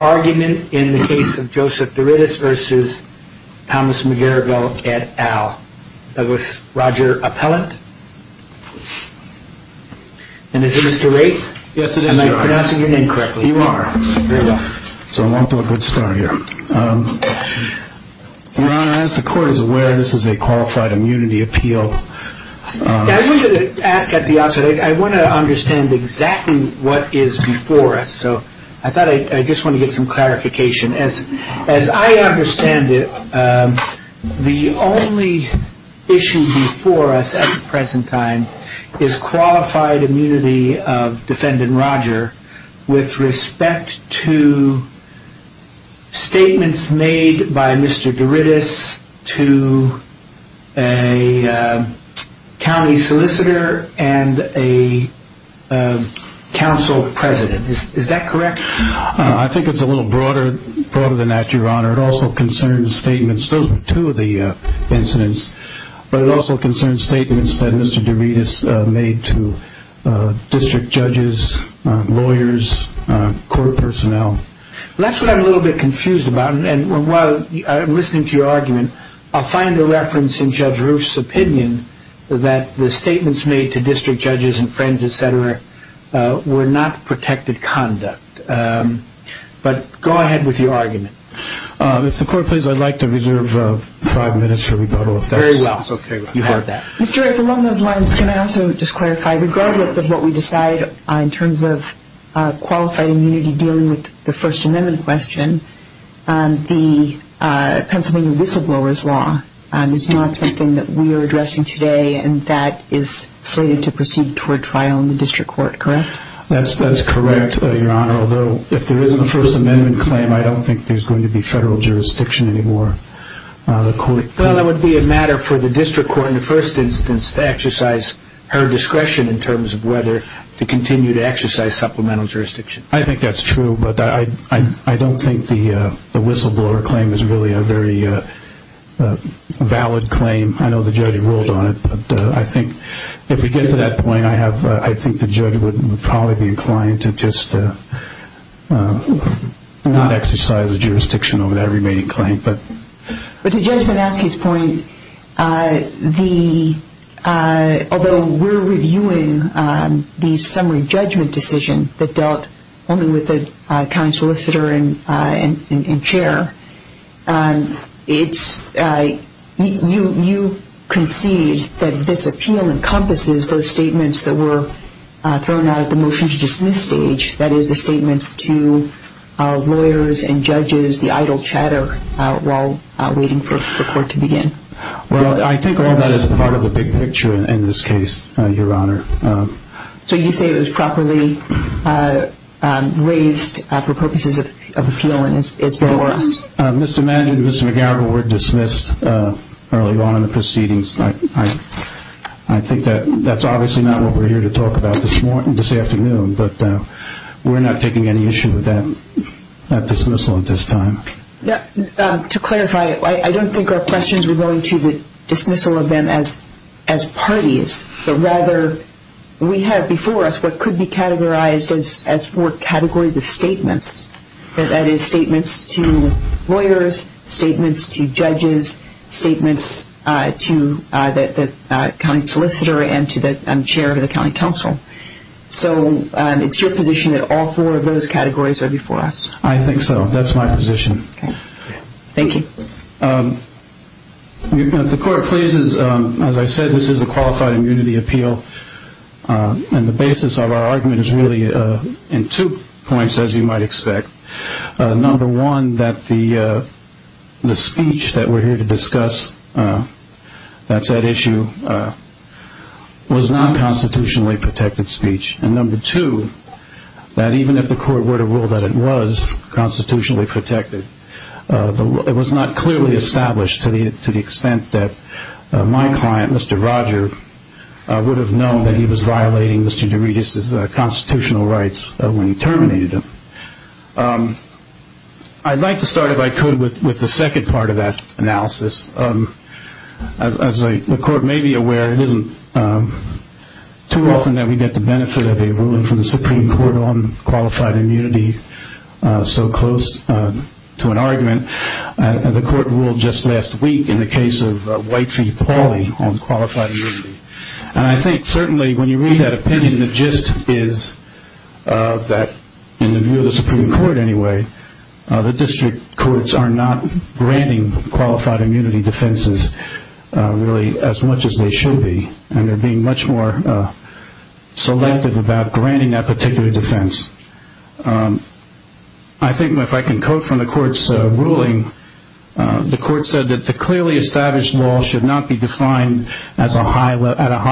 v. McGarrigle, et al. Roger Appellant Ron, as the Court is aware, this is a qualified immunity appeal. I wanted to ask at the outset, I want to understand exactly what is before us. I just want to get some clarification. As I understand it, the only issue before us at the present time is qualified immunity of defendant Roger with respect to statements made by Mr. De Ritis to a county solicitor and a council president. Is that correct? I think it's a little broader than that, Your Honor. It also concerns statements. Those were two of the incidents. But it also concerns statements that Mr. De Ritis made to district judges, lawyers, court personnel. That's what I'm a little bit confused about. And while I'm listening to your argument, I'll find a reference in Judge Roof's opinion that the statements made to district judges and friends, et cetera, were not protected conduct. But go ahead with your argument. If the Court please, I'd like to reserve five minutes for rebuttal. Very well. You heard that. Mr. Roof, along those lines, can I also just clarify, regardless of what we decide in terms of qualified immunity dealing with the First Amendment question, the Pennsylvania Whistleblower's Law is not something that we are addressing today and that is slated to proceed toward trial in the district court, correct? That's correct, Your Honor, although if there isn't a First Amendment claim, I don't think there's going to be federal jurisdiction anymore. Well, it would be a matter for the district court in the first instance to exercise her discretion in terms of whether to continue to exercise supplemental jurisdiction. I think that's true, but I don't think the whistleblower claim is really a very valid claim. I know the judge ruled on it, but I think if we get to that point, I think the judge would probably be inclined to just not exercise the jurisdiction over that remaining claim. To Judge Manaske's point, although we're reviewing the summary judgment decision that dealt only with the county solicitor and chair, you concede that this appeal encompasses those statements that were thrown out at the motion to dismiss stage, that is the statements to lawyers and judges, the idle chatter while waiting for the court to begin. Well, I think all of that is part of the big picture in this case, Your Honor. So you say it was properly raised for purposes of appeal and is before us. Mr. Manaske and Mr. McGowen were dismissed early on in the proceedings. I think that's obviously not what we're here to talk about this afternoon, but we're not taking any issue with that dismissal at this time. To clarify, I don't think our questions were going to the dismissal of them as parties, but rather we have before us what could be categorized as four categories of statements, that is statements to lawyers, statements to judges, statements to the county solicitor and to the chair of the county council. So it's your position that all four of those categories are before us? I think so. That's my position. Okay. Thank you. If the court pleases, as I said, this is a qualified immunity appeal, and the basis of our argument is really in two points, as you might expect. Number one, that the speech that we're here to discuss, that said issue, was not constitutionally protected speech. And number two, that even if the court were to rule that it was constitutionally protected, it was not clearly established to the extent that my client, Mr. Roger, would have known that he was violating Mr. Derides' constitutional rights when he terminated him. I'd like to start, if I could, with the second part of that analysis. As the court may be aware, it isn't too often that we get the benefit of a ruling from the Supreme Court on qualified immunity so close to an argument. The court ruled just last week in the case of White v. Pauley on qualified immunity. And I think certainly when you read that opinion, the gist is that, in the view of the Supreme Court anyway, the district courts are not granting qualified immunity defenses really as much as they should be, and they're being much more selective about granting that particular defense. I think if I can quote from the court's ruling, the court said that the clearly established law should not be defined at a high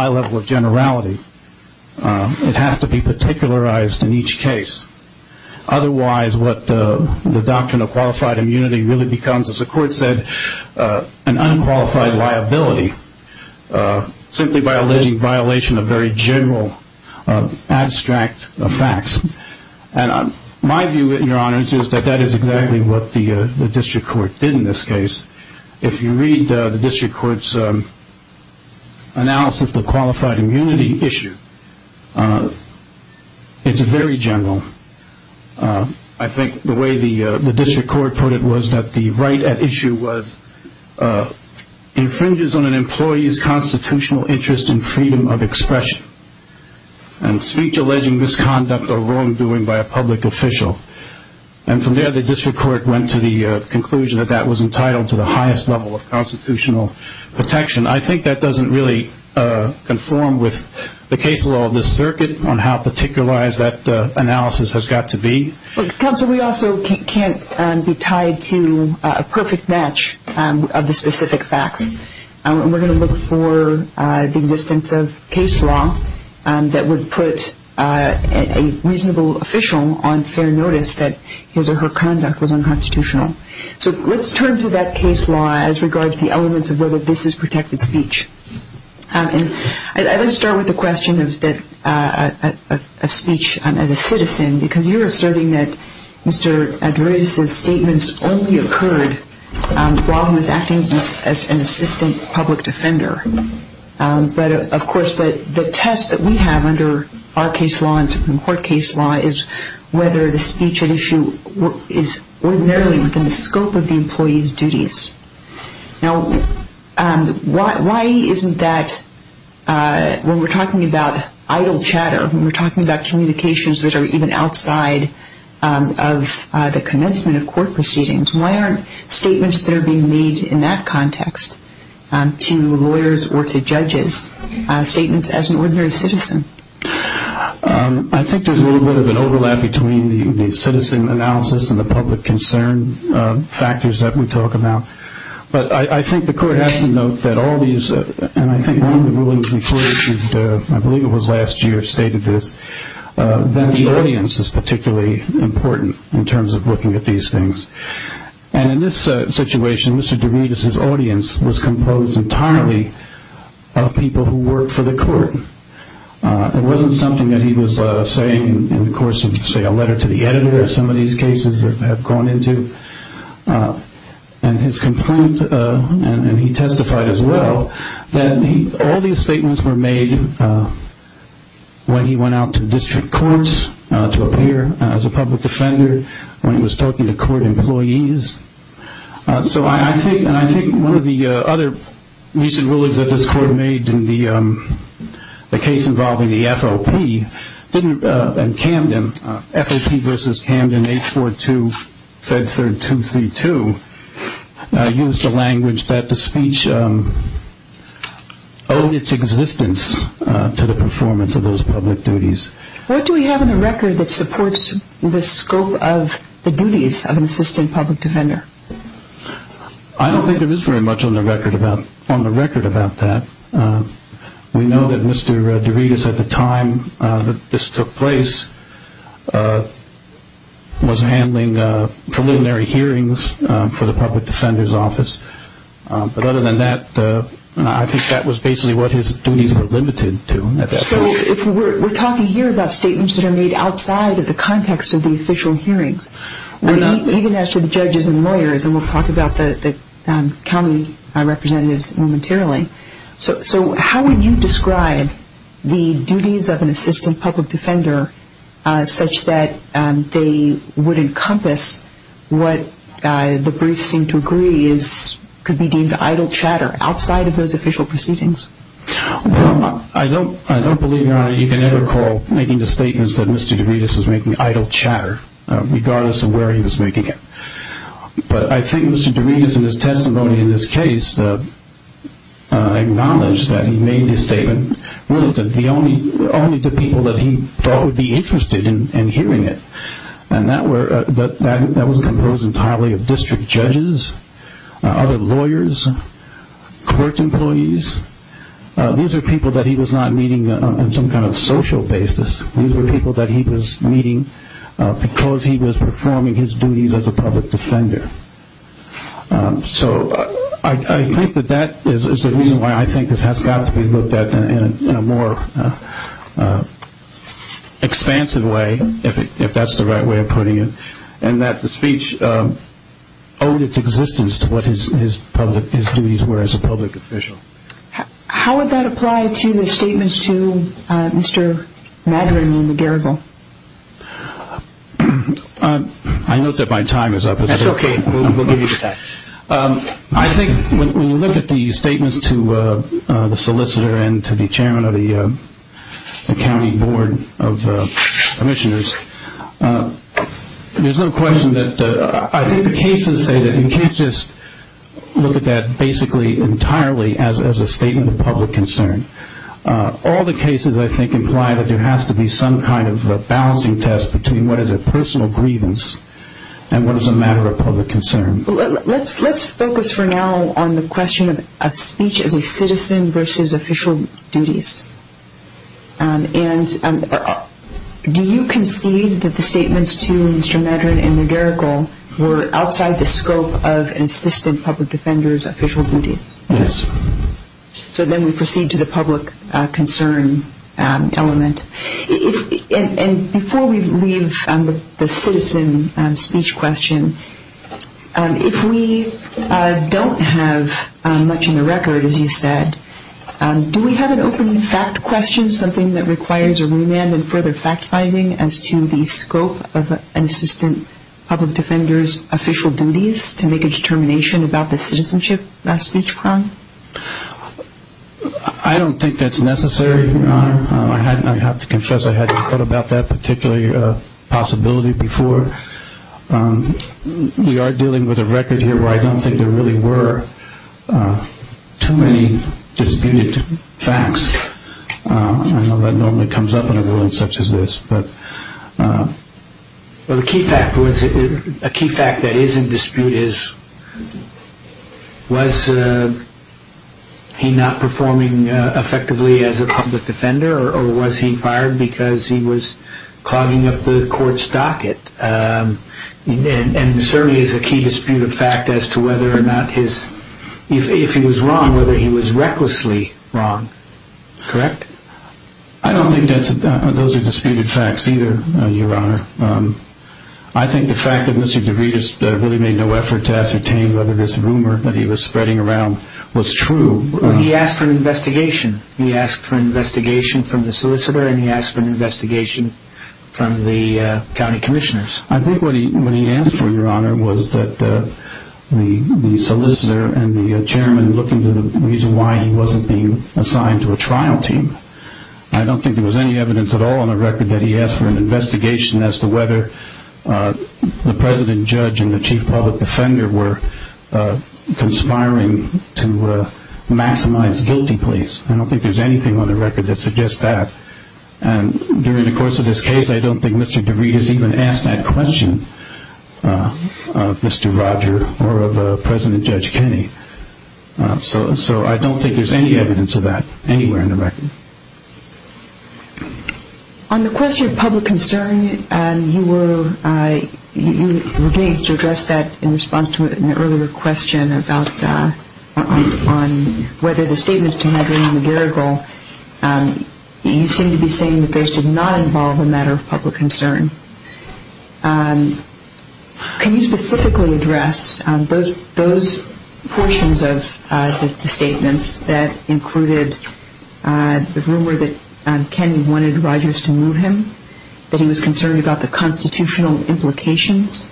level of generality. It has to be particularized in each case. Otherwise, what the doctrine of qualified immunity really becomes, as the court said, an unqualified liability simply by alleging violation of very general, abstract facts. My view, Your Honors, is that that is exactly what the district court did in this case. If you read the district court's analysis of the qualified immunity issue, it's very general. I think the way the district court put it was that the right at issue was infringes on an employee's constitutional interest in freedom of expression and speech alleging misconduct or wrongdoing by a public official. And from there, the district court went to the conclusion that that was entitled to the highest level of constitutional protection. I think that doesn't really conform with the case law of this circuit on how particularized that analysis has got to be. Counsel, we also can't be tied to a perfect match of the specific facts. We're going to look for the existence of case law that would put a reasonable official on fair notice that his or her conduct was unconstitutional. So let's turn to that case law as regards the elements of whether this is protected speech. I'd like to start with the question of speech as a citizen because you're asserting that Mr. Adrides' statements only occurred while he was acting as an assistant public defender. But, of course, the test that we have under our case law and Supreme Court case law is whether the speech at issue is ordinarily within the scope of the employee's duties. Now, why isn't that when we're talking about idle chatter, when we're talking about communications that are even outside of the commencement of court proceedings, why aren't statements that are being made in that context to lawyers or to judges statements as an ordinary citizen? I think there's a little bit of an overlap between the citizen analysis and the public concern factors that we talk about. But I think the court has to note that all these, and I think one of the rulings referred to I believe it was last year stated this, that the audience is particularly important in terms of looking at these things. And in this situation, Mr. Adrides' audience was composed entirely of people who worked for the court. It wasn't something that he was saying in the course of, say, a letter to the editor in some of these cases. And his complaint, and he testified as well, that all these statements were made when he went out to district courts to appear as a public defender, when he was talking to court employees. So I think one of the other recent rulings that this court made in the case involving the FOP and Camden, FOP versus Camden 842, Fed Third 232, used the language that the speech owed its existence to the performance of those public duties. What do we have in the record that supports the scope of the duties of an assistant public defender? I don't think there is very much on the record about that. We know that Mr. Adrides, at the time that this took place, was handling preliminary hearings for the public defender's office. But other than that, I think that was basically what his duties were limited to. So we're talking here about statements that are made outside of the context of the official hearings, even as to the judges and lawyers, and we'll talk about the county representatives momentarily. So how would you describe the duties of an assistant public defender such that they would encompass what the briefs seem to agree could be deemed idle chatter outside of those official proceedings? Well, I don't believe, Your Honor, you can ever call making the statements that Mr. Adrides was making idle chatter, regardless of where he was making it. But I think Mr. Adrides, in his testimony in this case, acknowledged that he made his statement limited only to people that he thought would be interested in hearing it. And that was composed entirely of district judges, other lawyers, court employees. These are people that he was not meeting on some kind of social basis. These were people that he was meeting because he was performing his duties as a public defender. So I think that that is the reason why I think this has got to be looked at in a more expansive way, if that's the right way of putting it, and that the speech owed its existence to what his duties were as a public official. How would that apply to the statements to Mr. Madren and McGarrigle? I note that my time is up. That's okay. We'll give you the time. I think when you look at the statements to the solicitor and to the chairman of the county board of commissioners, there's no question that I think the cases say that you can't just look at that basically entirely as a statement of public concern. All the cases, I think, imply that there has to be some kind of balancing test between what is a personal grievance and what is a matter of public concern. Let's focus for now on the question of speech as a citizen versus official duties. And do you concede that the statements to Mr. Madren and McGarrigle were outside the scope of an assistant public defender's official duties? Yes. So then we proceed to the public concern element. And before we leave the citizen speech question, if we don't have much in the record, as you said, do we have an open fact question, something that requires a remand and further fact-finding as to the scope of an assistant public defender's official duties to make a determination about the citizenship speech crime? I don't think that's necessary, Your Honor. I have to confess I hadn't thought about that particular possibility before. We are dealing with a record here where I don't think there really were too many disputed facts. I know that normally comes up in a ruling such as this. The key fact that is in dispute is, was he not performing effectively as a public defender or was he fired because he was clogging up the court's docket? And certainly is a key disputed fact as to whether or not his, if he was wrong, whether he was recklessly wrong. Correct? I don't think those are disputed facts either, Your Honor. I think the fact that Mr. DeVritis really made no effort to ascertain whether this rumor that he was spreading around was true. He asked for an investigation. He asked for an investigation from the solicitor and he asked for an investigation from the county commissioners. I think what he asked for, Your Honor, was that the solicitor and the chairman look into the reason why he wasn't being assigned to a trial team. I don't think there was any evidence at all on the record that he asked for an investigation as to whether the president judge and the chief public defender were conspiring to maximize guilty pleas. I don't think there's anything on the record that suggests that. And during the course of this case, I don't think Mr. DeVritis even asked that question of Mr. Roger or of President Judge Kenney. So I don't think there's any evidence of that anywhere in the record. Thank you. On the question of public concern, you were engaged to address that in response to an earlier question about whether the statements to Henry McGarrigle, you seem to be saying that those did not involve a matter of public concern. Can you specifically address those portions of the statements that included the rumor that Kenney wanted Rogers to move him, that he was concerned about the constitutional implications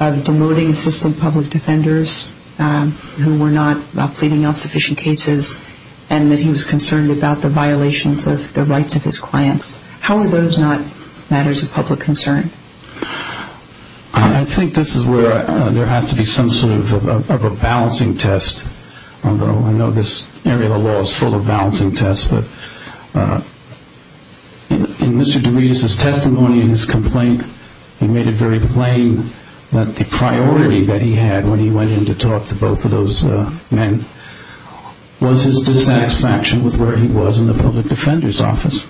of demoting assistant public defenders who were not pleading on sufficient cases, and that he was concerned about the violations of the rights of his clients? How are those not matters of public concern? I think this is where there has to be some sort of a balancing test. I know this area of the law is full of balancing tests, but in Mr. DeVritis' testimony in his complaint, he made it very plain that the priority that he had when he went in to talk to both of those men was his dissatisfaction with where he was in the public defender's office.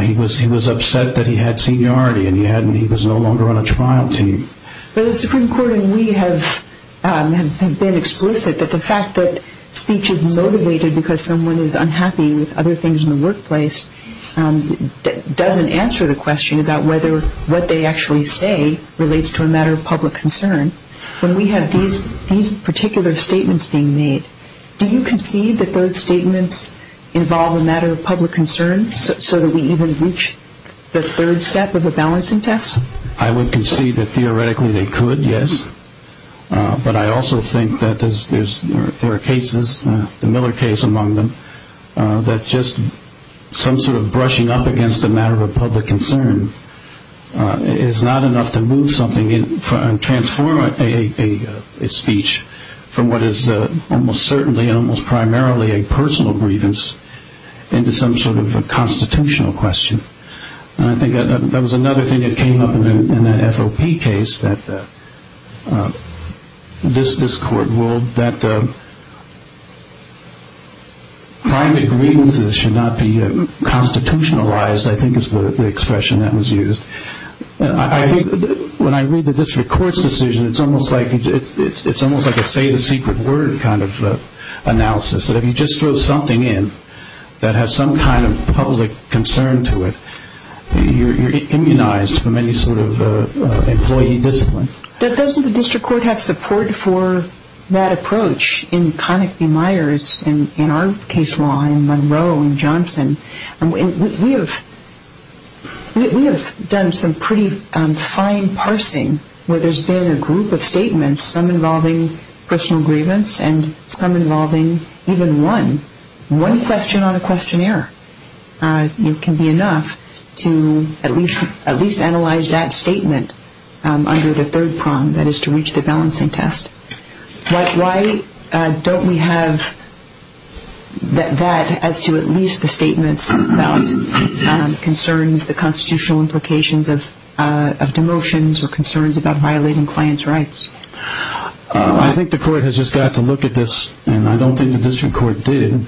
He was upset that he had seniority and he was no longer on a trial team. But the Supreme Court and we have been explicit that the fact that speech is motivated because someone is unhappy with other things in the workplace doesn't answer the question about whether what they actually say relates to a matter of public concern. When we have these particular statements being made, do you concede that those statements involve a matter of public concern so that we even reach the third step of the balancing test? I would concede that theoretically they could, yes. But I also think that there are cases, the Miller case among them, that just some sort of brushing up against a matter of public concern is not enough to move something and transform a speech from what is almost certainly, almost primarily a personal grievance into some sort of a constitutional question. And I think that was another thing that came up in that FOP case that this court ruled that private grievances should not be constitutionalized, I think is the expression that was used. I think when I read the district court's decision, it's almost like a say the secret word kind of analysis, that if you just throw something in that has some kind of public concern to it, you're immunized from any sort of employee discipline. Doesn't the district court have support for that approach in Connick v. Myers and in our case law in Monroe and Johnson? We have done some pretty fine parsing where there's been a group of statements, some involving personal grievance and some involving even one, one question on a questionnaire. It can be enough to at least analyze that statement under the third prong, that is to reach the balancing test. Why don't we have that as to at least the statements about concerns, the constitutional implications of demotions or concerns about violating clients' rights? I think the court has just got to look at this, and I don't think the district court did,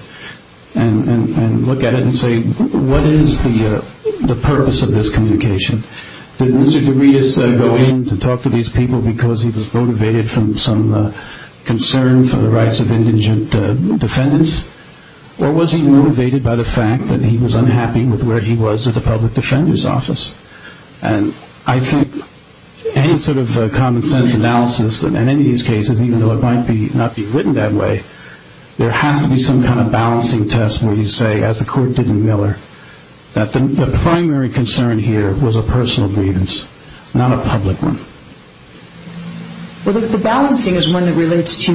and look at it and say what is the purpose of this communication? Did Mr. Derides go in to talk to these people because he was motivated from some concern for the rights of indigent defendants, or was he motivated by the fact that he was unhappy with where he was at the public defender's office? And I think any sort of common sense analysis in any of these cases, even though it might not be written that way, there has to be some kind of balancing test where you say, as the court did in Miller, that the primary concern here was a personal grievance, not a public one. Well, the balancing is one that relates to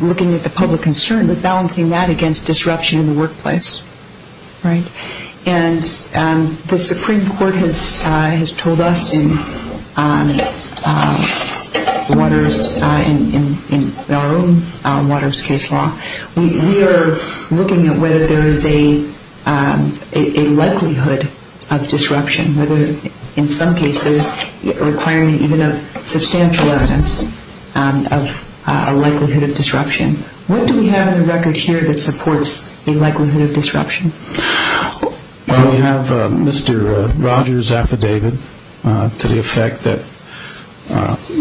looking at the public concern, but balancing that against disruption in the workplace, right? And the Supreme Court has told us in Waters, in our own Waters case law, we are looking at whether there is a likelihood of disruption, whether in some cases requiring even substantial evidence of a likelihood of disruption. What do we have in the record here that supports a likelihood of disruption? Well, we have Mr. Rogers' affidavit to the effect that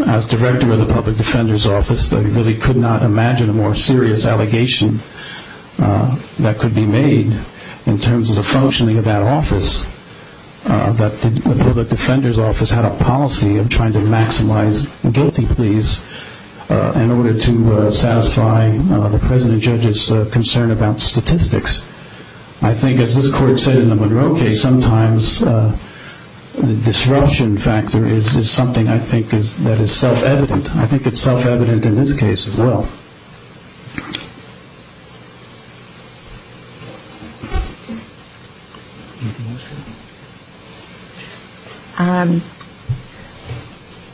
as director of the public defender's office, I really could not imagine a more serious allegation that could be made in terms of the functioning of that office, that the public defender's office had a policy of trying to maximize guilty pleas in order to satisfy the president judge's concern about statistics. I think, as this court said in the Monroe case, sometimes the disruption factor is something I think that is self-evident. I think it's self-evident in this case as well.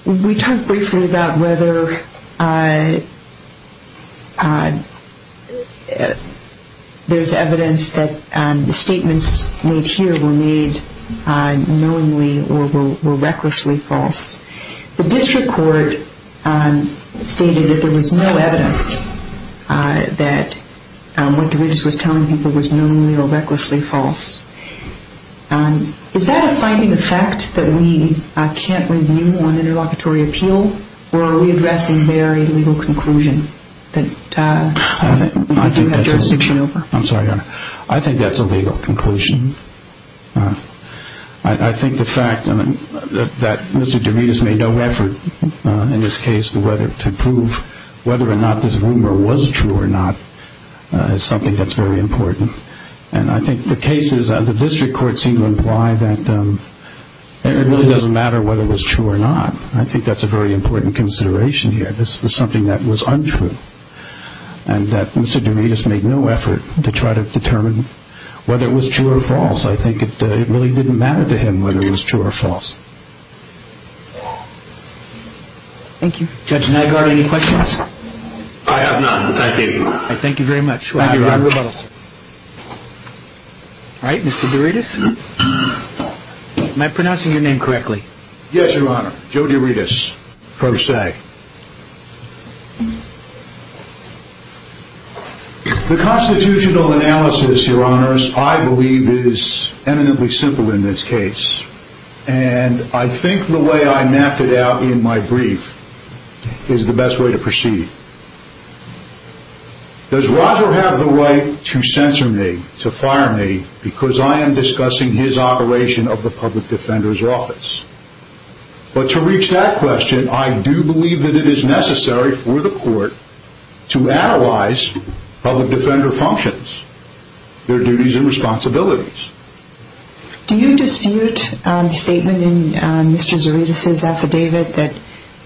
We talked briefly about whether there is evidence that the statements made here were made knowingly or were recklessly false. The district court stated that there was no evidence that what DeMetrius was telling people was knowingly or recklessly false. Is that a finding of fact that we can't review on interlocutory appeal, or are we addressing their legal conclusion that we do have jurisdiction over? I'm sorry, Your Honor. I think that's a legal conclusion. I think the fact that Mr. DeMetrius made no effort in this case to prove whether or not this rumor was true or not is something that's very important. I think the cases of the district court seem to imply that it really doesn't matter whether it was true or not. I think that's a very important consideration here. And that Mr. DeMetrius made no effort to try to determine whether it was true or false. I think it really didn't matter to him whether it was true or false. Thank you. Judge Nygaard, any questions? I have none. Thank you. Thank you very much. Thank you, Your Honor. All right, Mr. DeMetrius, am I pronouncing your name correctly? Yes, Your Honor. Joe DeMetrius, Pro Se. The constitutional analysis, Your Honors, I believe is eminently simple in this case. And I think the way I mapped it out in my brief is the best way to proceed. Does Roger have the right to censor me, to fire me, because I am discussing his operation of the public defender's office? But to reach that question, I do believe that it is necessary for the court to analyze public defender functions, their duties and responsibilities. Do you dispute the statement in Mr. Zarides' affidavit that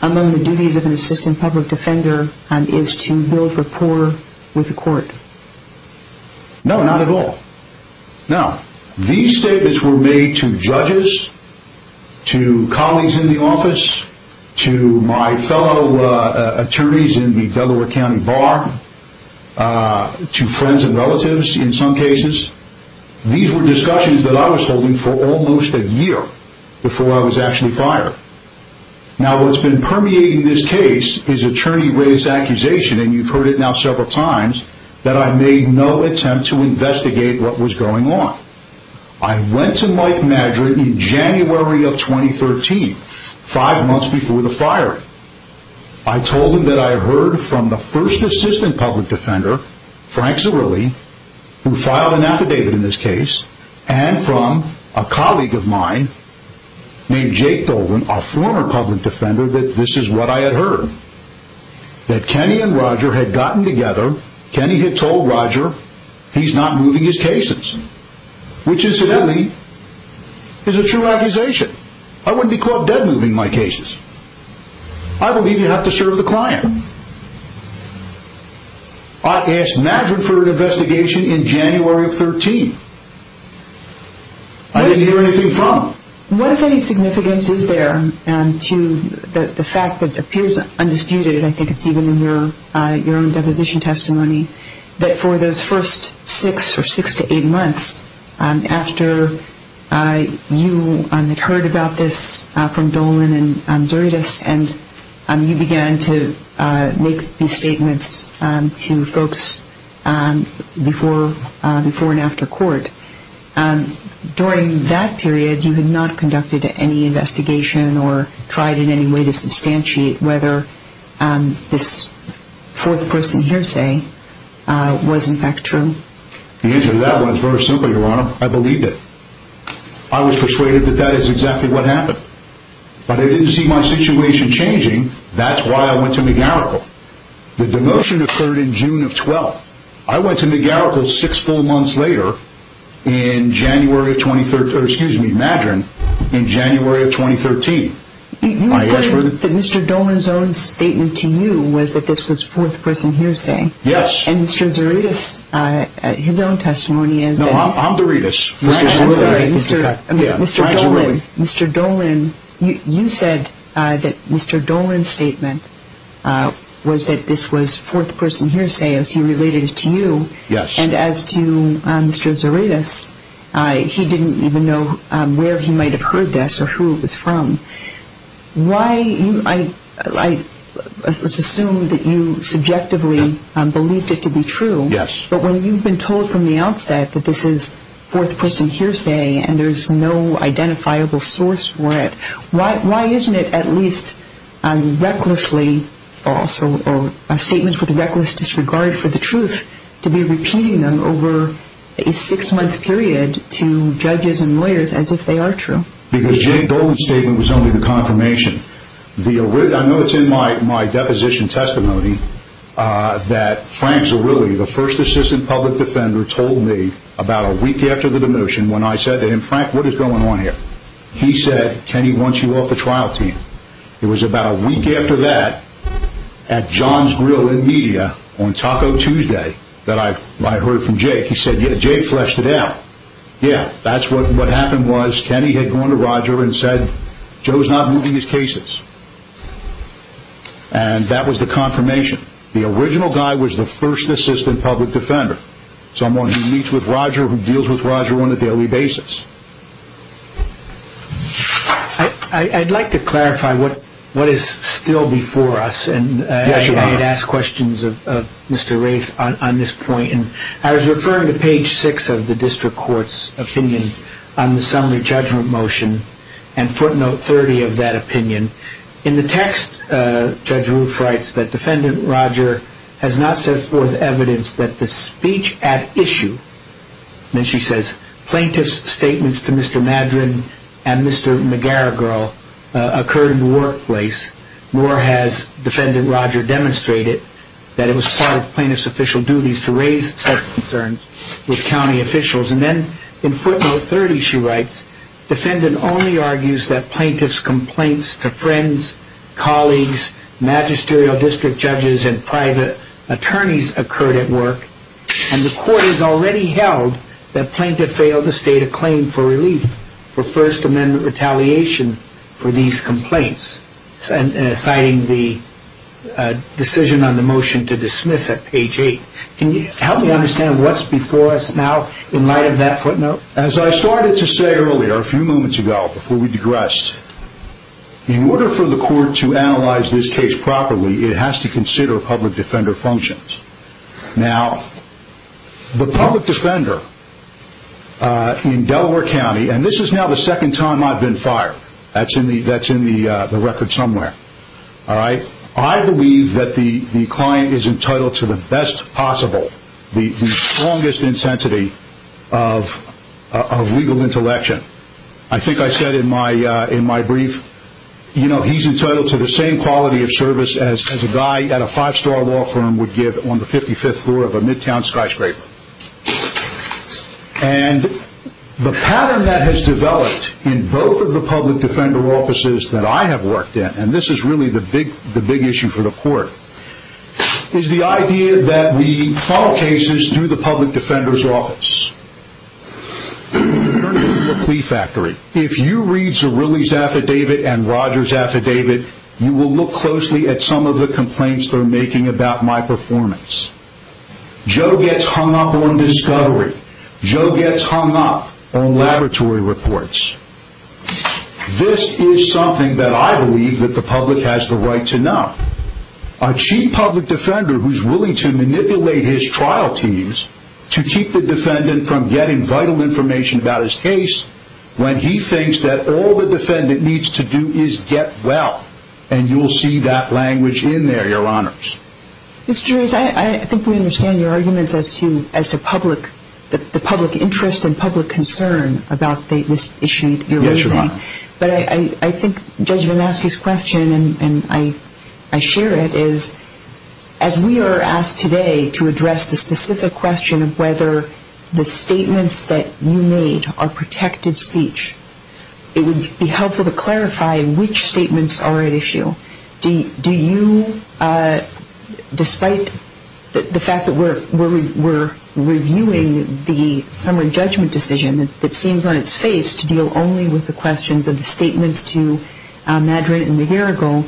among the duties of an assistant public defender is to build rapport with the court? No, not at all. Now, these statements were made to judges, to colleagues in the office, to my fellow attorneys in the Delaware County Bar, to friends and relatives in some cases. These were discussions that I was holding for almost a year before I was actually fired. Now, what's been permeating this case is attorney-raised accusation, and you've heard it now several times, that I made no attempt to investigate what was going on. I went to Mike Madrin in January of 2013, five months before the firing. I told him that I heard from the first assistant public defender, Frank Zerilli, who filed an affidavit in this case, and from a colleague of mine named Jake Dolan, a former public defender, that this is what I had heard. That Kenny and Roger had gotten together, Kenny had told Roger he's not moving his cases, which incidentally is a true accusation. I said, I wouldn't be caught dead moving my cases. I believe you have to serve the client. I asked Madrin for an investigation in January of 2013. I didn't hear anything from him. What, if any, significance is there to the fact that it appears undisputed, I think it's even in your own deposition testimony, that for those first six or six to eight months after you had heard about this from Dolan and Zuridas, and you began to make these statements to folks before and after court, during that period you had not conducted any investigation or tried in any way to substantiate whether this fourth person hearsay was in fact true. The answer to that one is very simple, Your Honor. I believed it. I was persuaded that that is exactly what happened. But I didn't see my situation changing. That's why I went to McGarrickle. The demotion occurred in June of 12. I went to McGarrickle six full months later in January of 2013, or excuse me, Madrin, in January of 2013. You mentioned that Mr. Dolan's own statement to you was that this was fourth person hearsay. Yes. And Mr. Zuridas, his own testimony is that he... No, I'm Zuridas. Mr. Dolan, you said that Mr. Dolan's statement was that this was fourth person hearsay as he related it to you. Yes. And as to Mr. Zuridas, he didn't even know where he might have heard this or who it was from. Why, let's assume that you subjectively believed it to be true. Yes. But when you've been told from the outset that this is fourth person hearsay and there's no identifiable source for it, why isn't it at least recklessly false or statements with reckless disregard for the truth to be repeating them over a six-month period to judges and lawyers as if they are true? Because Jake Dolan's statement was only the confirmation. I know it's in my deposition testimony that Frank Zerilli, the first assistant public defender, told me about a week after the demotion when I said to him, Frank, what is going on here? He said, Kenny wants you off the trial team. It was about a week after that at John's Grill in Media on Taco Tuesday that I heard from Jake. He said, yeah, Jake fleshed it out. Yeah, that's what happened was Kenny had gone to Roger and said, Joe's not moving his cases. And that was the confirmation. The original guy was the first assistant public defender, someone who meets with Roger, who deals with Roger on a daily basis. I'd like to clarify what is still before us. I had asked questions of Mr. Rafe on this point. I was referring to page six of the district court's opinion on the summary judgment motion and footnote 30 of that opinion. In the text, Judge Roof writes that defendant Roger has not set forth evidence that the speech at issue, and then she says, plaintiff's statements to Mr. Madren and Mr. McGarrigle occurred in the workplace, nor has defendant Roger demonstrated that it was part of plaintiff's official duties to raise such concerns with county officials. And then in footnote 30, she writes, defendant only argues that plaintiff's complaints to friends, colleagues, magisterial district judges and private attorneys occurred at work, and the court has already held that plaintiff failed to state a claim for relief for First Amendment retaliation for these complaints, citing the decision on the motion to dismiss at page eight. Can you help me understand what's before us now in light of that footnote? As I started to say earlier, a few moments ago, before we digressed, in order for the court to analyze this case properly, it has to consider public defender functions. Now, the public defender in Delaware County, and this is now the second time I've been fired. That's in the record somewhere. I believe that the client is entitled to the best possible, the strongest intensity of legal intellection. I think I said in my brief, he's entitled to the same quality of service as a guy at a five-star law firm would give on the 55th floor of a midtown skyscraper. And the pattern that has developed in both of the public defender offices that I have worked in, and this is really the big issue for the court, is the idea that we file cases through the public defender's office. In terms of the plea factory, if you read Zerilli's affidavit and Rogers' affidavit, you will look closely at some of the complaints they're making about my performance. Joe gets hung up on discovery. Joe gets hung up on laboratory reports. This is something that I believe that the public has the right to know. A chief public defender who's willing to manipulate his trial teams to keep the defendant from getting vital information about his case, when he thinks that all the defendant needs to do is get well, and you'll see that language in there, your honors. Mr. Gerez, I think we understand your arguments as to the public interest and public concern about this issue that you're raising. Yes, Your Honor. But I think Judge Varnasky's question, and I share it, is as we are asked today to address the specific question of whether the statements that you made are protected speech, it would be helpful to clarify which statements are at issue. Do you, despite the fact that we're reviewing the summary judgment decision that seems on its face to deal only with the questions of the statements to Madrin and McGarrigle,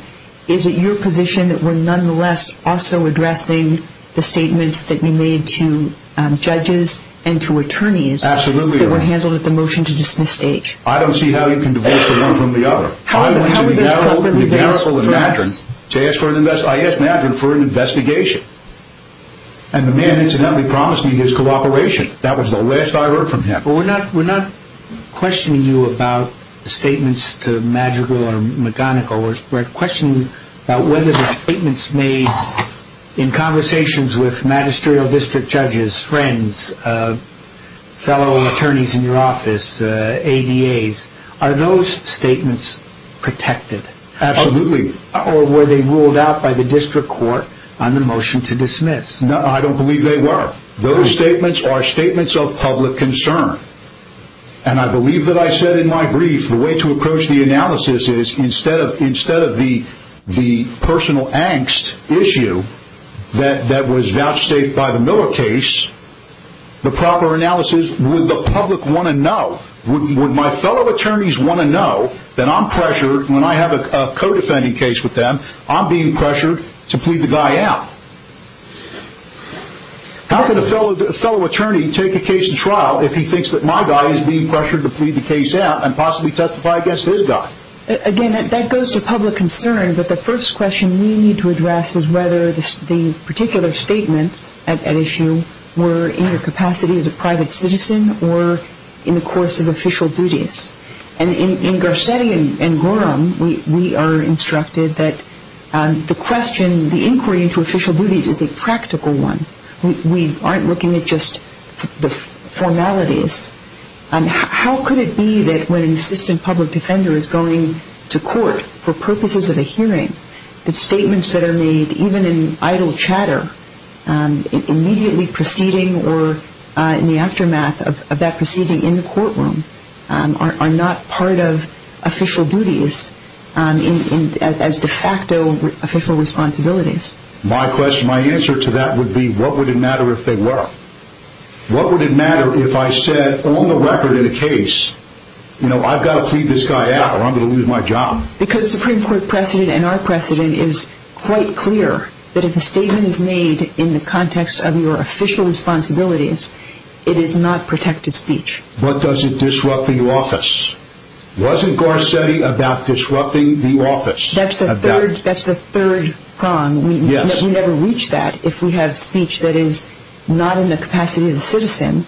is it your position that we're nonetheless also addressing the statements that you made to judges and to attorneys? Absolutely, Your Honor. That were handled at the motion to dismiss stage? I don't see how you can divorce one from the other. I went to McGarrigle and Madrin to ask Madrin for an investigation, and the man incidentally promised me his cooperation. That was the last I heard from him. We're not questioning you about the statements to Madrigal or McGonigal. We're questioning whether the statements made in conversations with magisterial district judges, friends, fellow attorneys in your office, ADAs, are those statements protected? Absolutely. Or were they ruled out by the district court on the motion to dismiss? I don't believe they were. Those statements are statements of public concern. And I believe that I said in my brief the way to approach the analysis is instead of the personal angst issue that was vouchsafed by the Miller case, the proper analysis would the public want to know, would my fellow attorneys want to know that I'm pressured when I have a co-defending case with them, I'm being pressured to plead the guy out. How can a fellow attorney take a case in trial if he thinks that my guy is being pressured to plead the case out and possibly testify against his guy? Again, that goes to public concern, but the first question we need to address is whether the particular statements at issue were in your capacity as a private citizen or in the course of official duties. And in Garcetti and Gorham, we are instructed that the question, the inquiry into official duties is a practical one. We aren't looking at just the formalities. How could it be that when an assistant public defender is going to court for purposes of a hearing, the statements that are made, even in idle chatter, immediately preceding or in the aftermath of that proceeding in the courtroom, are not part of official duties as de facto official responsibilities? My question, my answer to that would be what would it matter if they were? What would it matter if I said on the record in a case, you know, I've got to plead this guy out or I'm going to lose my job? Because Supreme Court precedent and our precedent is quite clear that if a statement is made in the context of your official responsibilities, it is not protected speech. But does it disrupt the office? Wasn't Garcetti about disrupting the office? That's the third prong. We never reach that if we have speech that is not in the capacity of the citizen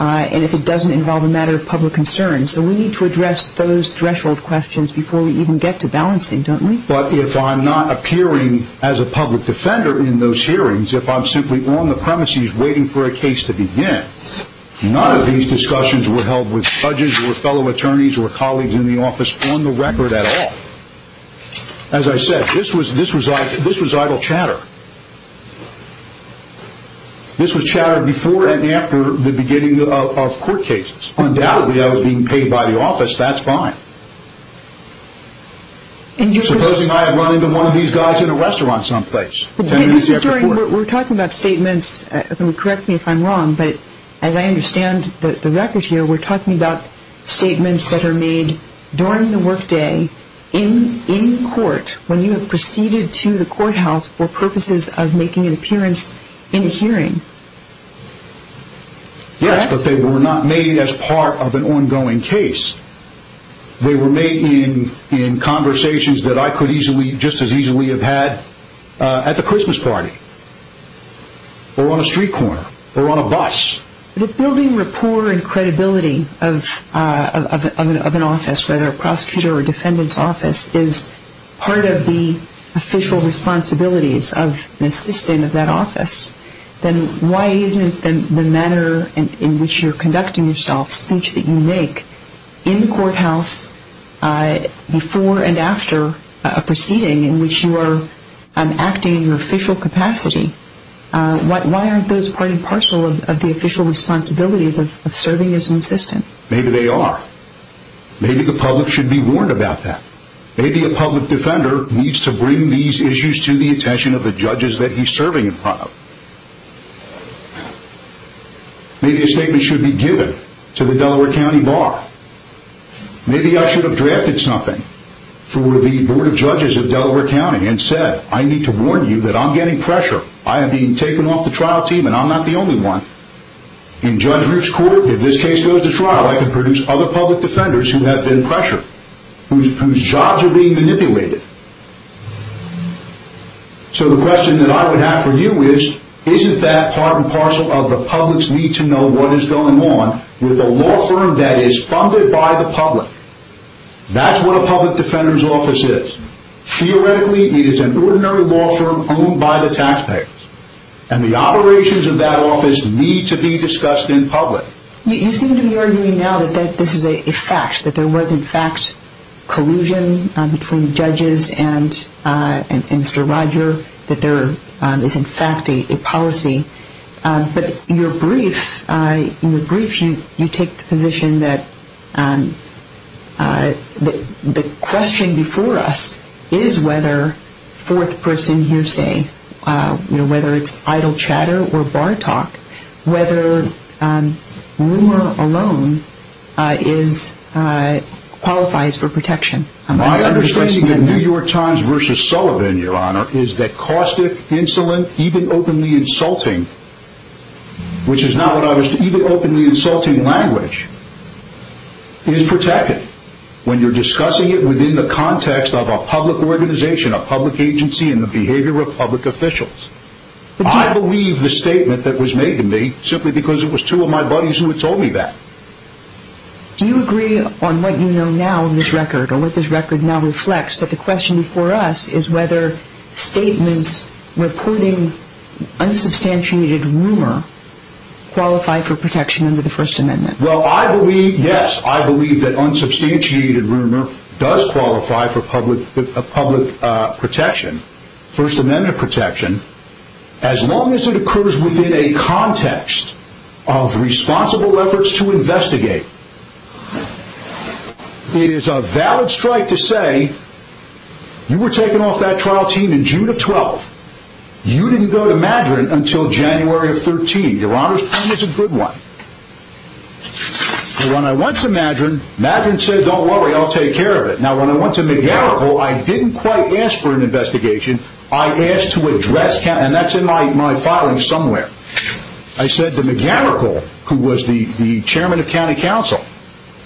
and if it doesn't involve a matter of public concern. So we need to address those threshold questions before we even get to balancing, don't we? But if I'm not appearing as a public defender in those hearings, if I'm simply on the premises waiting for a case to begin, none of these discussions were held with judges or fellow attorneys or colleagues in the office on the record at all. As I said, this was idle chatter. This was chatter before and after the beginning of court cases. Undoubtedly, I was being paid by the office, that's fine. Supposing I had run into one of these guys in a restaurant someplace. We're talking about statements, correct me if I'm wrong, but as I understand the records here, we're talking about statements that are made during the workday in court when you have proceeded to the courthouse for purposes of making an appearance in a hearing. Yes, but they were not made as part of an ongoing case. They were made in conversations that I could just as easily have had at the Christmas party or on a street corner or on a bus. But if building rapport and credibility of an office, whether a prosecutor or defendant's office, is part of the official responsibilities of an assistant of that office, then why isn't the manner in which you're conducting yourself, speech that you make, in the courthouse before and after a proceeding in which you are acting in your official capacity, why aren't those part and parcel of the official responsibilities of serving as an assistant? Maybe they are. Maybe the public should be warned about that. Maybe a public defender needs to bring these issues to the attention of the judges that he's serving in front of. Maybe a statement should be given to the Delaware County Bar. Maybe I should have drafted something for the Board of Judges of Delaware County and said, I need to warn you that I'm getting pressure. I am being taken off the trial team and I'm not the only one. In Judge Roof's court, if this case goes to trial, I could produce other public defenders who have been pressured, whose jobs are being manipulated. So the question that I would have for you is, isn't that part and parcel of the public's need to know what is going on with a law firm that is funded by the public? That's what a public defender's office is. Theoretically, it is an ordinary law firm owned by the taxpayers. And the operations of that office need to be discussed in public. You seem to be arguing now that this is a fact. That there was, in fact, collusion between judges and Mr. Roger. That there is, in fact, a policy. But in your brief, you take the position that the question before us is whether fourth person hearsay, whether it's idle chatter or bar talk, whether rumor alone qualifies for protection. My understanding of New York Times versus Sullivan, Your Honor, is that caustic, insolent, even openly insulting, which is not what I was, even openly insulting language, is protected. When you're discussing it within the context of a public organization, a public agency, and the behavior of public officials. I believe the statement that was made to me, simply because it was two of my buddies who had told me that. Do you agree on what you know now in this record, or what this record now reflects, that the question before us is whether statements, including unsubstantiated rumor, qualify for protection under the First Amendment? Well, I believe, yes, I believe that unsubstantiated rumor does qualify for public protection. First Amendment protection. As long as it occurs within a context of responsible efforts to investigate. It is a valid strike to say, you were taken off that trial team in June of 12. You didn't go to Madrin until January of 13. Your Honor's point is a good one. When I went to Madrin, Madrin said, don't worry, I'll take care of it. Now, when I went to McGammerchill, I didn't quite ask for an investigation. I asked to address, and that's in my filing somewhere. I said to McGammerchill, who was the chairman of county council,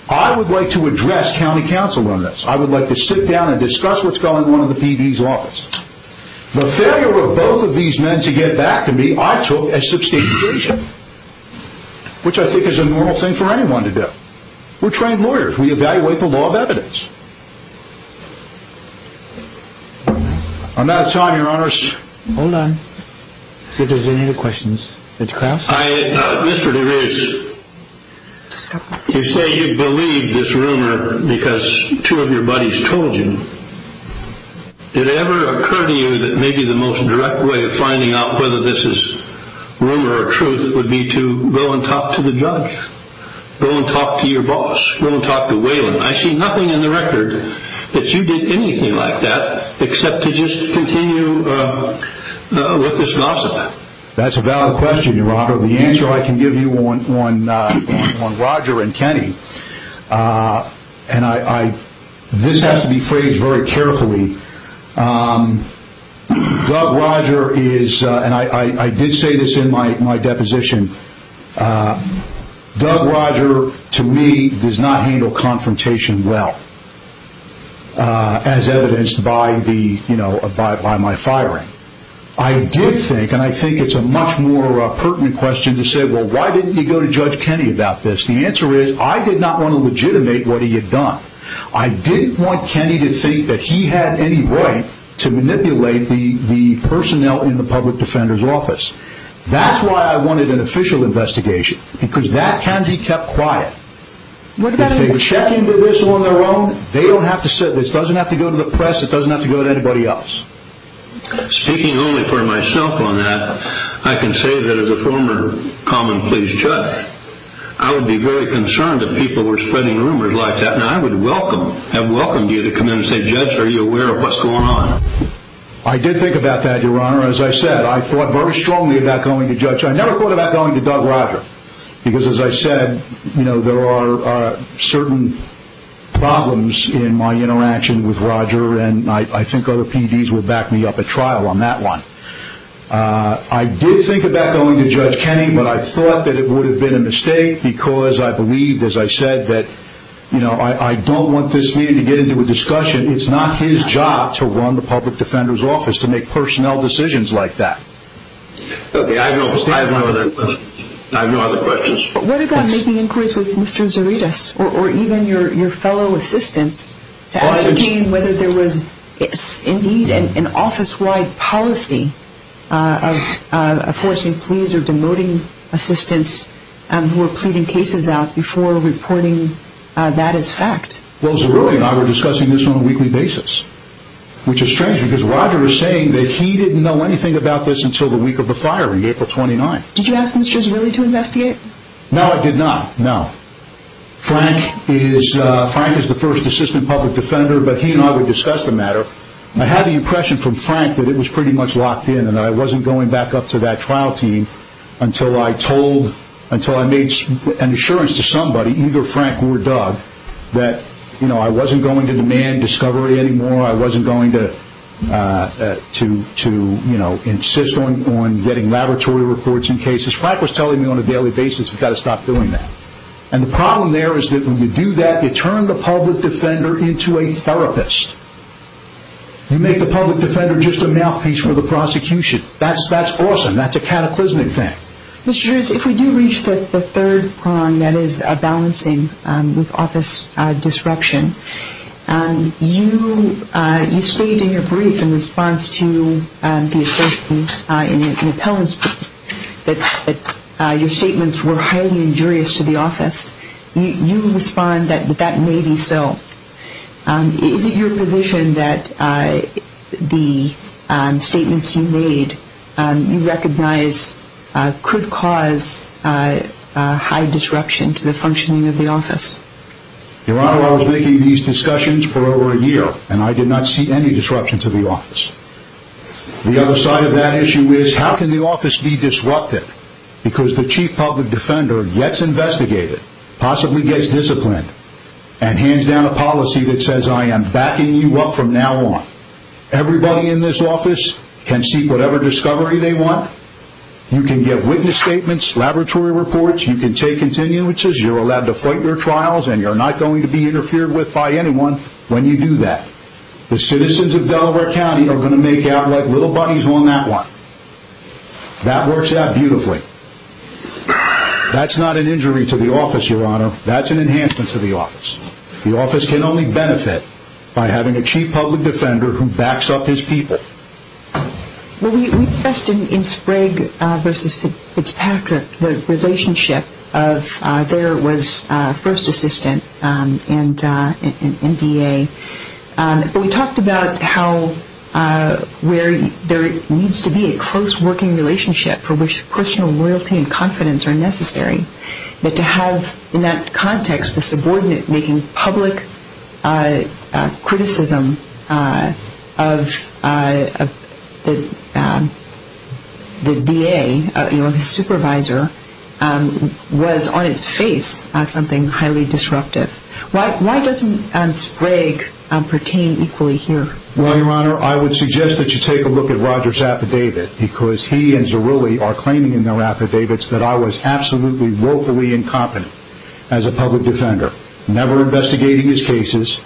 I would like to address county council on this. I would like to sit down and discuss what's going on in the PD's office. The failure of both of these men to get back to me, I took as substantiation. Which I think is a normal thing for anyone to do. We're trained lawyers, we evaluate the law of evidence. On that time, Your Honor's... Hold on, see if there's any other questions. Mr. Krauss? Mr. DeRose, you say you believe this rumor because two of your buddies told you. Did it ever occur to you that maybe the most direct way of finding out whether this is rumor or truth would be to go and talk to the judge? Go and talk to your boss? Go and talk to Waylon? I see nothing in the record that you did anything like that, except to just continue with this nonsense. That's a valid question, Your Honor. The answer I can give you on Roger and Kenny, and this has to be phrased very carefully, Doug Roger is, and I did say this in my deposition, Doug Roger, to me, does not handle confrontation well. As evidenced by my firing. I did think, and I think it's a much more pertinent question to say, well, why didn't you go to Judge Kenny about this? The answer is, I did not want to legitimate what he had done. I didn't want Kenny to think that he had any right to manipulate the personnel in the public defender's office. That's why I wanted an official investigation, because that can be kept quiet. If they were checking with this on their own, they don't have to sit, this doesn't have to go to the press, it doesn't have to go to anybody else. Speaking only for myself on that, I can say that as a former common pleas judge, I would be very concerned if people were spreading rumors like that, and I would have welcomed you to come in and say, Judge, are you aware of what's going on? I did think about that, Your Honor. As I said, I thought very strongly about going to Judge, I never thought about going to Doug Roger, because as I said, there are certain problems in my interaction with Roger, and I think other PDs will back me up at trial on that one. I did think about going to Judge Kenny, but I thought that it would have been a mistake, because I believed, as I said, that I don't want this meeting to get into a discussion. It's not his job to run the public defender's office, to make personnel decisions like that. Okay, I have no other questions. What about making inquiries with Mr. Zaredes, or even your fellow assistants, to ascertain whether there was indeed an office-wide policy of forcing pleas or demoting assistants who were pleading cases out before reporting that as fact? Well, Zarede and I were discussing this on a weekly basis, which is strange, because Roger is saying that he didn't know anything about this until the week of the fire on April 29th. Did you ask Mr. Zaredes to investigate? No, I did not, no. Frank is the first assistant public defender, but he and I would discuss the matter. I had the impression from Frank that it was pretty much locked in, and I wasn't going back up to that trial team until I made an assurance to somebody, either Frank or Doug, that I wasn't going to demand discovery anymore, I wasn't going to insist on getting laboratory reports in cases. Frank was telling me on a daily basis, we've got to stop doing that. And the problem there is that when you do that, you turn the public defender into a therapist. You make the public defender just a mouthpiece for the prosecution. That's awesome. That's a cataclysmic thing. Mr. Zaredes, if we do reach the third prong, that is balancing with office disruption, you stated in your brief in response to the assailant in an appellant's brief that your statements were highly injurious to the office. You respond that that may be so. Is it your position that the statements you made, you recognize, could cause high disruption to the functioning of the office? Your Honor, I was making these discussions for over a year, and I did not see any disruption to the office. The other side of that issue is, how can the office be disrupted? Because the chief public defender gets investigated, possibly gets disciplined, and hands down a policy that says, I am backing you up from now on. Everybody in this office can seek whatever discovery they want. You can get witness statements, laboratory reports, you can take continuances, you're allowed to fight your trials, and you're not going to be interfered with by anyone when you do that. The citizens of Delaware County are going to make out like little buddies on that one. That works out beautifully. That's not an injury to the office, Your Honor. That's an enhancement to the office. The office can only benefit by having a chief public defender who backs up his people. We discussed in Sprague v. Fitzpatrick the relationship of there was first assistant and DA. We talked about how where there needs to be a close working relationship for which personal loyalty and confidence are necessary, but to have in that context the subordinate making public criticism of the DA, his supervisor, was on its face something highly disruptive. Why doesn't Sprague pertain equally here? Well, Your Honor, I would suggest that you take a look at Roger's affidavit because he and Zarulli are claiming in their affidavits that I was absolutely woefully incompetent as a public defender, never investigating his cases,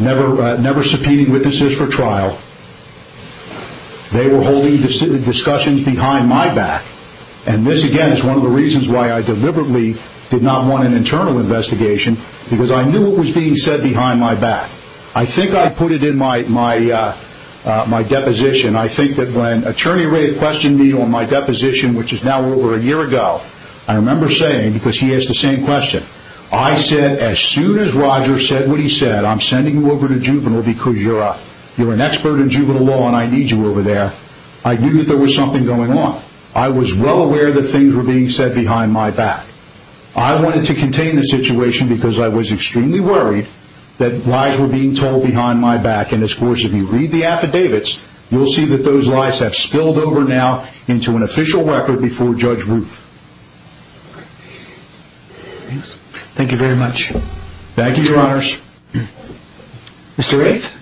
never subpoenaing witnesses for trial. They were holding discussions behind my back, and this, again, is one of the reasons why I deliberately did not want an internal investigation because I knew what was being said behind my back. I think I put it in my deposition. I think that when Attorney Wraith questioned me on my deposition, which is now over a year ago, I remember saying, because he asked the same question, I said as soon as Roger said what he said, I'm sending you over to juvenile because you're an expert in juvenile law and I need you over there, I knew that there was something going on. I was well aware that things were being said behind my back. I wanted to contain the situation because I was extremely worried that lies were being told behind my back, and, of course, if you read the affidavits, you'll see that those lies have spilled over now into an official record before Judge Roof. Thank you very much. Thank you, Your Honors. Mr. Wraith,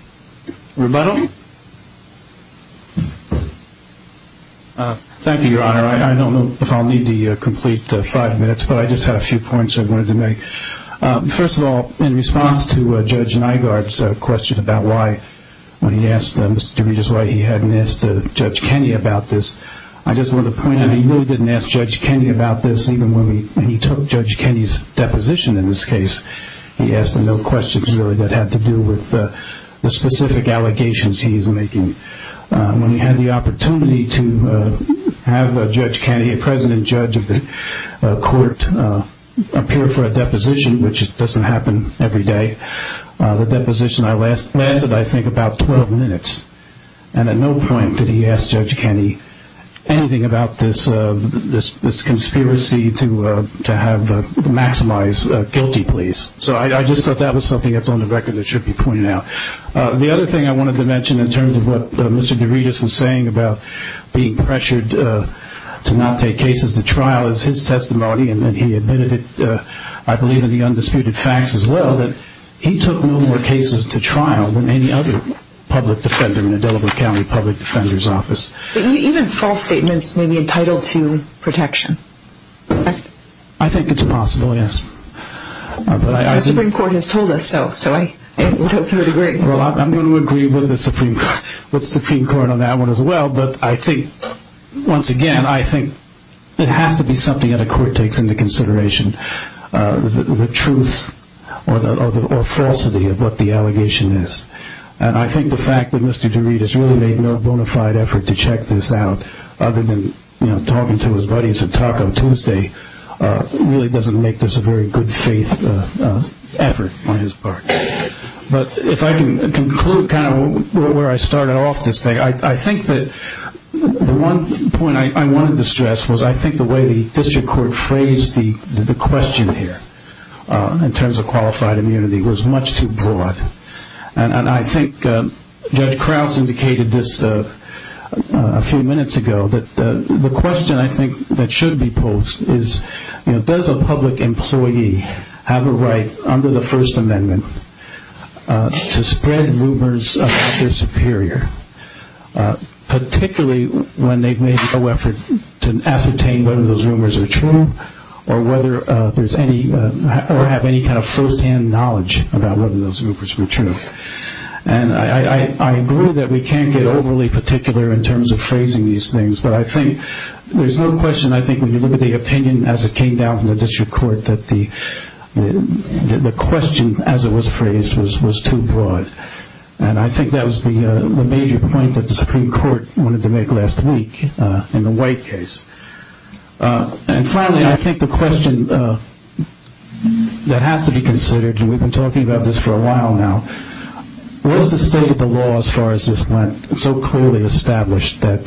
rebuttal? Thank you, Your Honor. I don't know if I'll need to complete five minutes, but I just had a few points I wanted to make. First of all, in response to Judge Nygaard's question about why, when he asked Mr. DeRegis why he hadn't asked Judge Kenney about this, I just wanted to point out he really didn't ask Judge Kenney about this even when he took Judge Kenney's deposition in this case. He asked him no questions really that had to do with the specific allegations he's making. When we had the opportunity to have Judge Kenney, a president judge of the court, appear for a deposition, which doesn't happen every day, the deposition lasted, I think, about 12 minutes, and at no point did he ask Judge Kenney anything about this conspiracy to maximize guilty pleas. So I just thought that was something that's on the record that should be pointed out. The other thing I wanted to mention in terms of what Mr. DeRegis was saying about being pressured to not take cases to trial is his testimony, and he admitted it, I believe, in the undisputed facts as well, that he took no more cases to trial than any other public defender in the Delaware County Public Defender's Office. Even false statements may be entitled to protection. I think it's possible, yes. The Supreme Court has told us so, so I hope you would agree. Well, I'm going to agree with the Supreme Court on that one as well, but I think, once again, I think it has to be something that a court takes into consideration, the truth or falsity of what the allegation is. And I think the fact that Mr. DeRegis really made no bona fide effort to check this out, other than talking to his buddies at Taco Tuesday, really doesn't make this a very good faith effort on his part. But if I can conclude kind of where I started off this thing, I think that the one point I wanted to stress was I think the way the district court phrased the question here in terms of qualified immunity was much too broad. And I think Judge Krauss indicated this a few minutes ago, that the question I think that should be posed is, does a public employee have a right under the First Amendment to spread rumors about their superior, particularly when they've made no effort to ascertain whether those rumors are true or have any kind of first-hand knowledge about whether those rumors were true. And I agree that we can't get overly particular in terms of phrasing these things, but I think there's no question I think when you look at the opinion as it came down from the district court that the question as it was phrased was too broad. And I think that was the major point that the Supreme Court wanted to make last week in the White case. And finally, I think the question that has to be considered, and we've been talking about this for a while now, was the state of the law as far as this went so clearly established that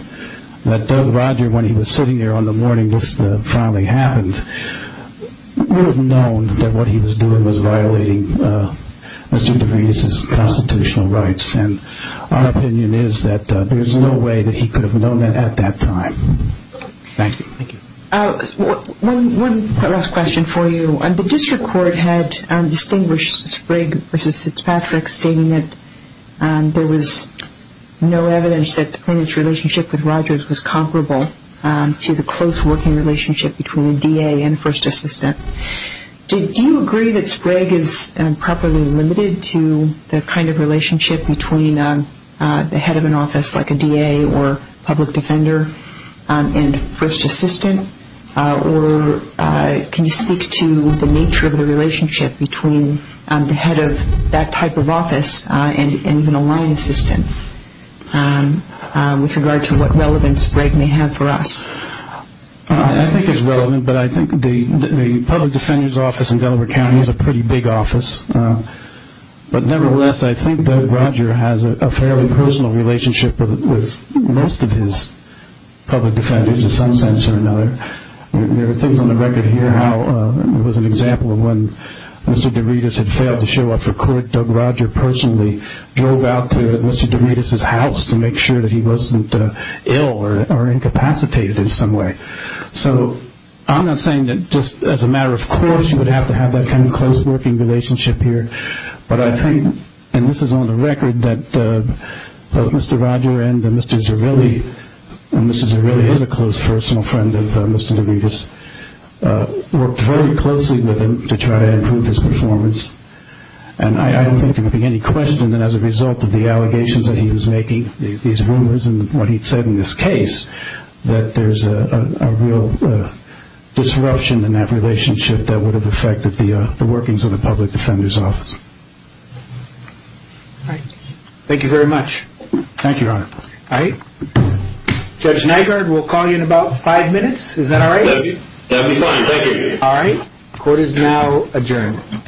Doug Rodger, when he was sitting there on the morning list of what finally happened, would have known that what he was doing was violating Mr. DeVita's constitutional rights. And our opinion is that there's no way that he could have known that at that time. Thank you. Thank you. One last question for you. The district court had distinguished Sprague versus Fitzpatrick, stating that there was no evidence that the plaintiff's relationship with Rodgers was comparable to the close working relationship between a DA and first assistant. Do you agree that Sprague is properly limited to the kind of relationship between the head of an office like a DA or public defender and first assistant? Or can you speak to the nature of the relationship between the head of that type of office and even a line assistant with regard to what relevance Sprague may have for us? I think it's relevant, but I think the public defender's office in Delaware County is a pretty big office. But nevertheless, I think Doug Rodger has a fairly personal relationship with most of his public defenders in some sense or another. There are things on the record here how it was an example of when Mr. DeVita had failed to show up for court. Doug Rodger personally drove out to Mr. DeVita's house to make sure that he wasn't ill or incapacitated in some way. So I'm not saying that just as a matter of course you would have to have that kind of close working relationship here. But I think, and this is on the record, that both Mr. Rodger and Mr. Zarilli, and Mr. Zarilli is a close personal friend of Mr. DeVita's, worked very closely with him to try to improve his performance. And I don't think there would be any question that as a result of the allegations that he was making, these rumors and what he said in this case, that there's a real disruption in that relationship that would have affected the workings of the public defender's office. Thank you very much. Thank you, Your Honor. Judge Nygaard, we'll call you in about five minutes. Is that all right? Thank you. Court is now adjourned.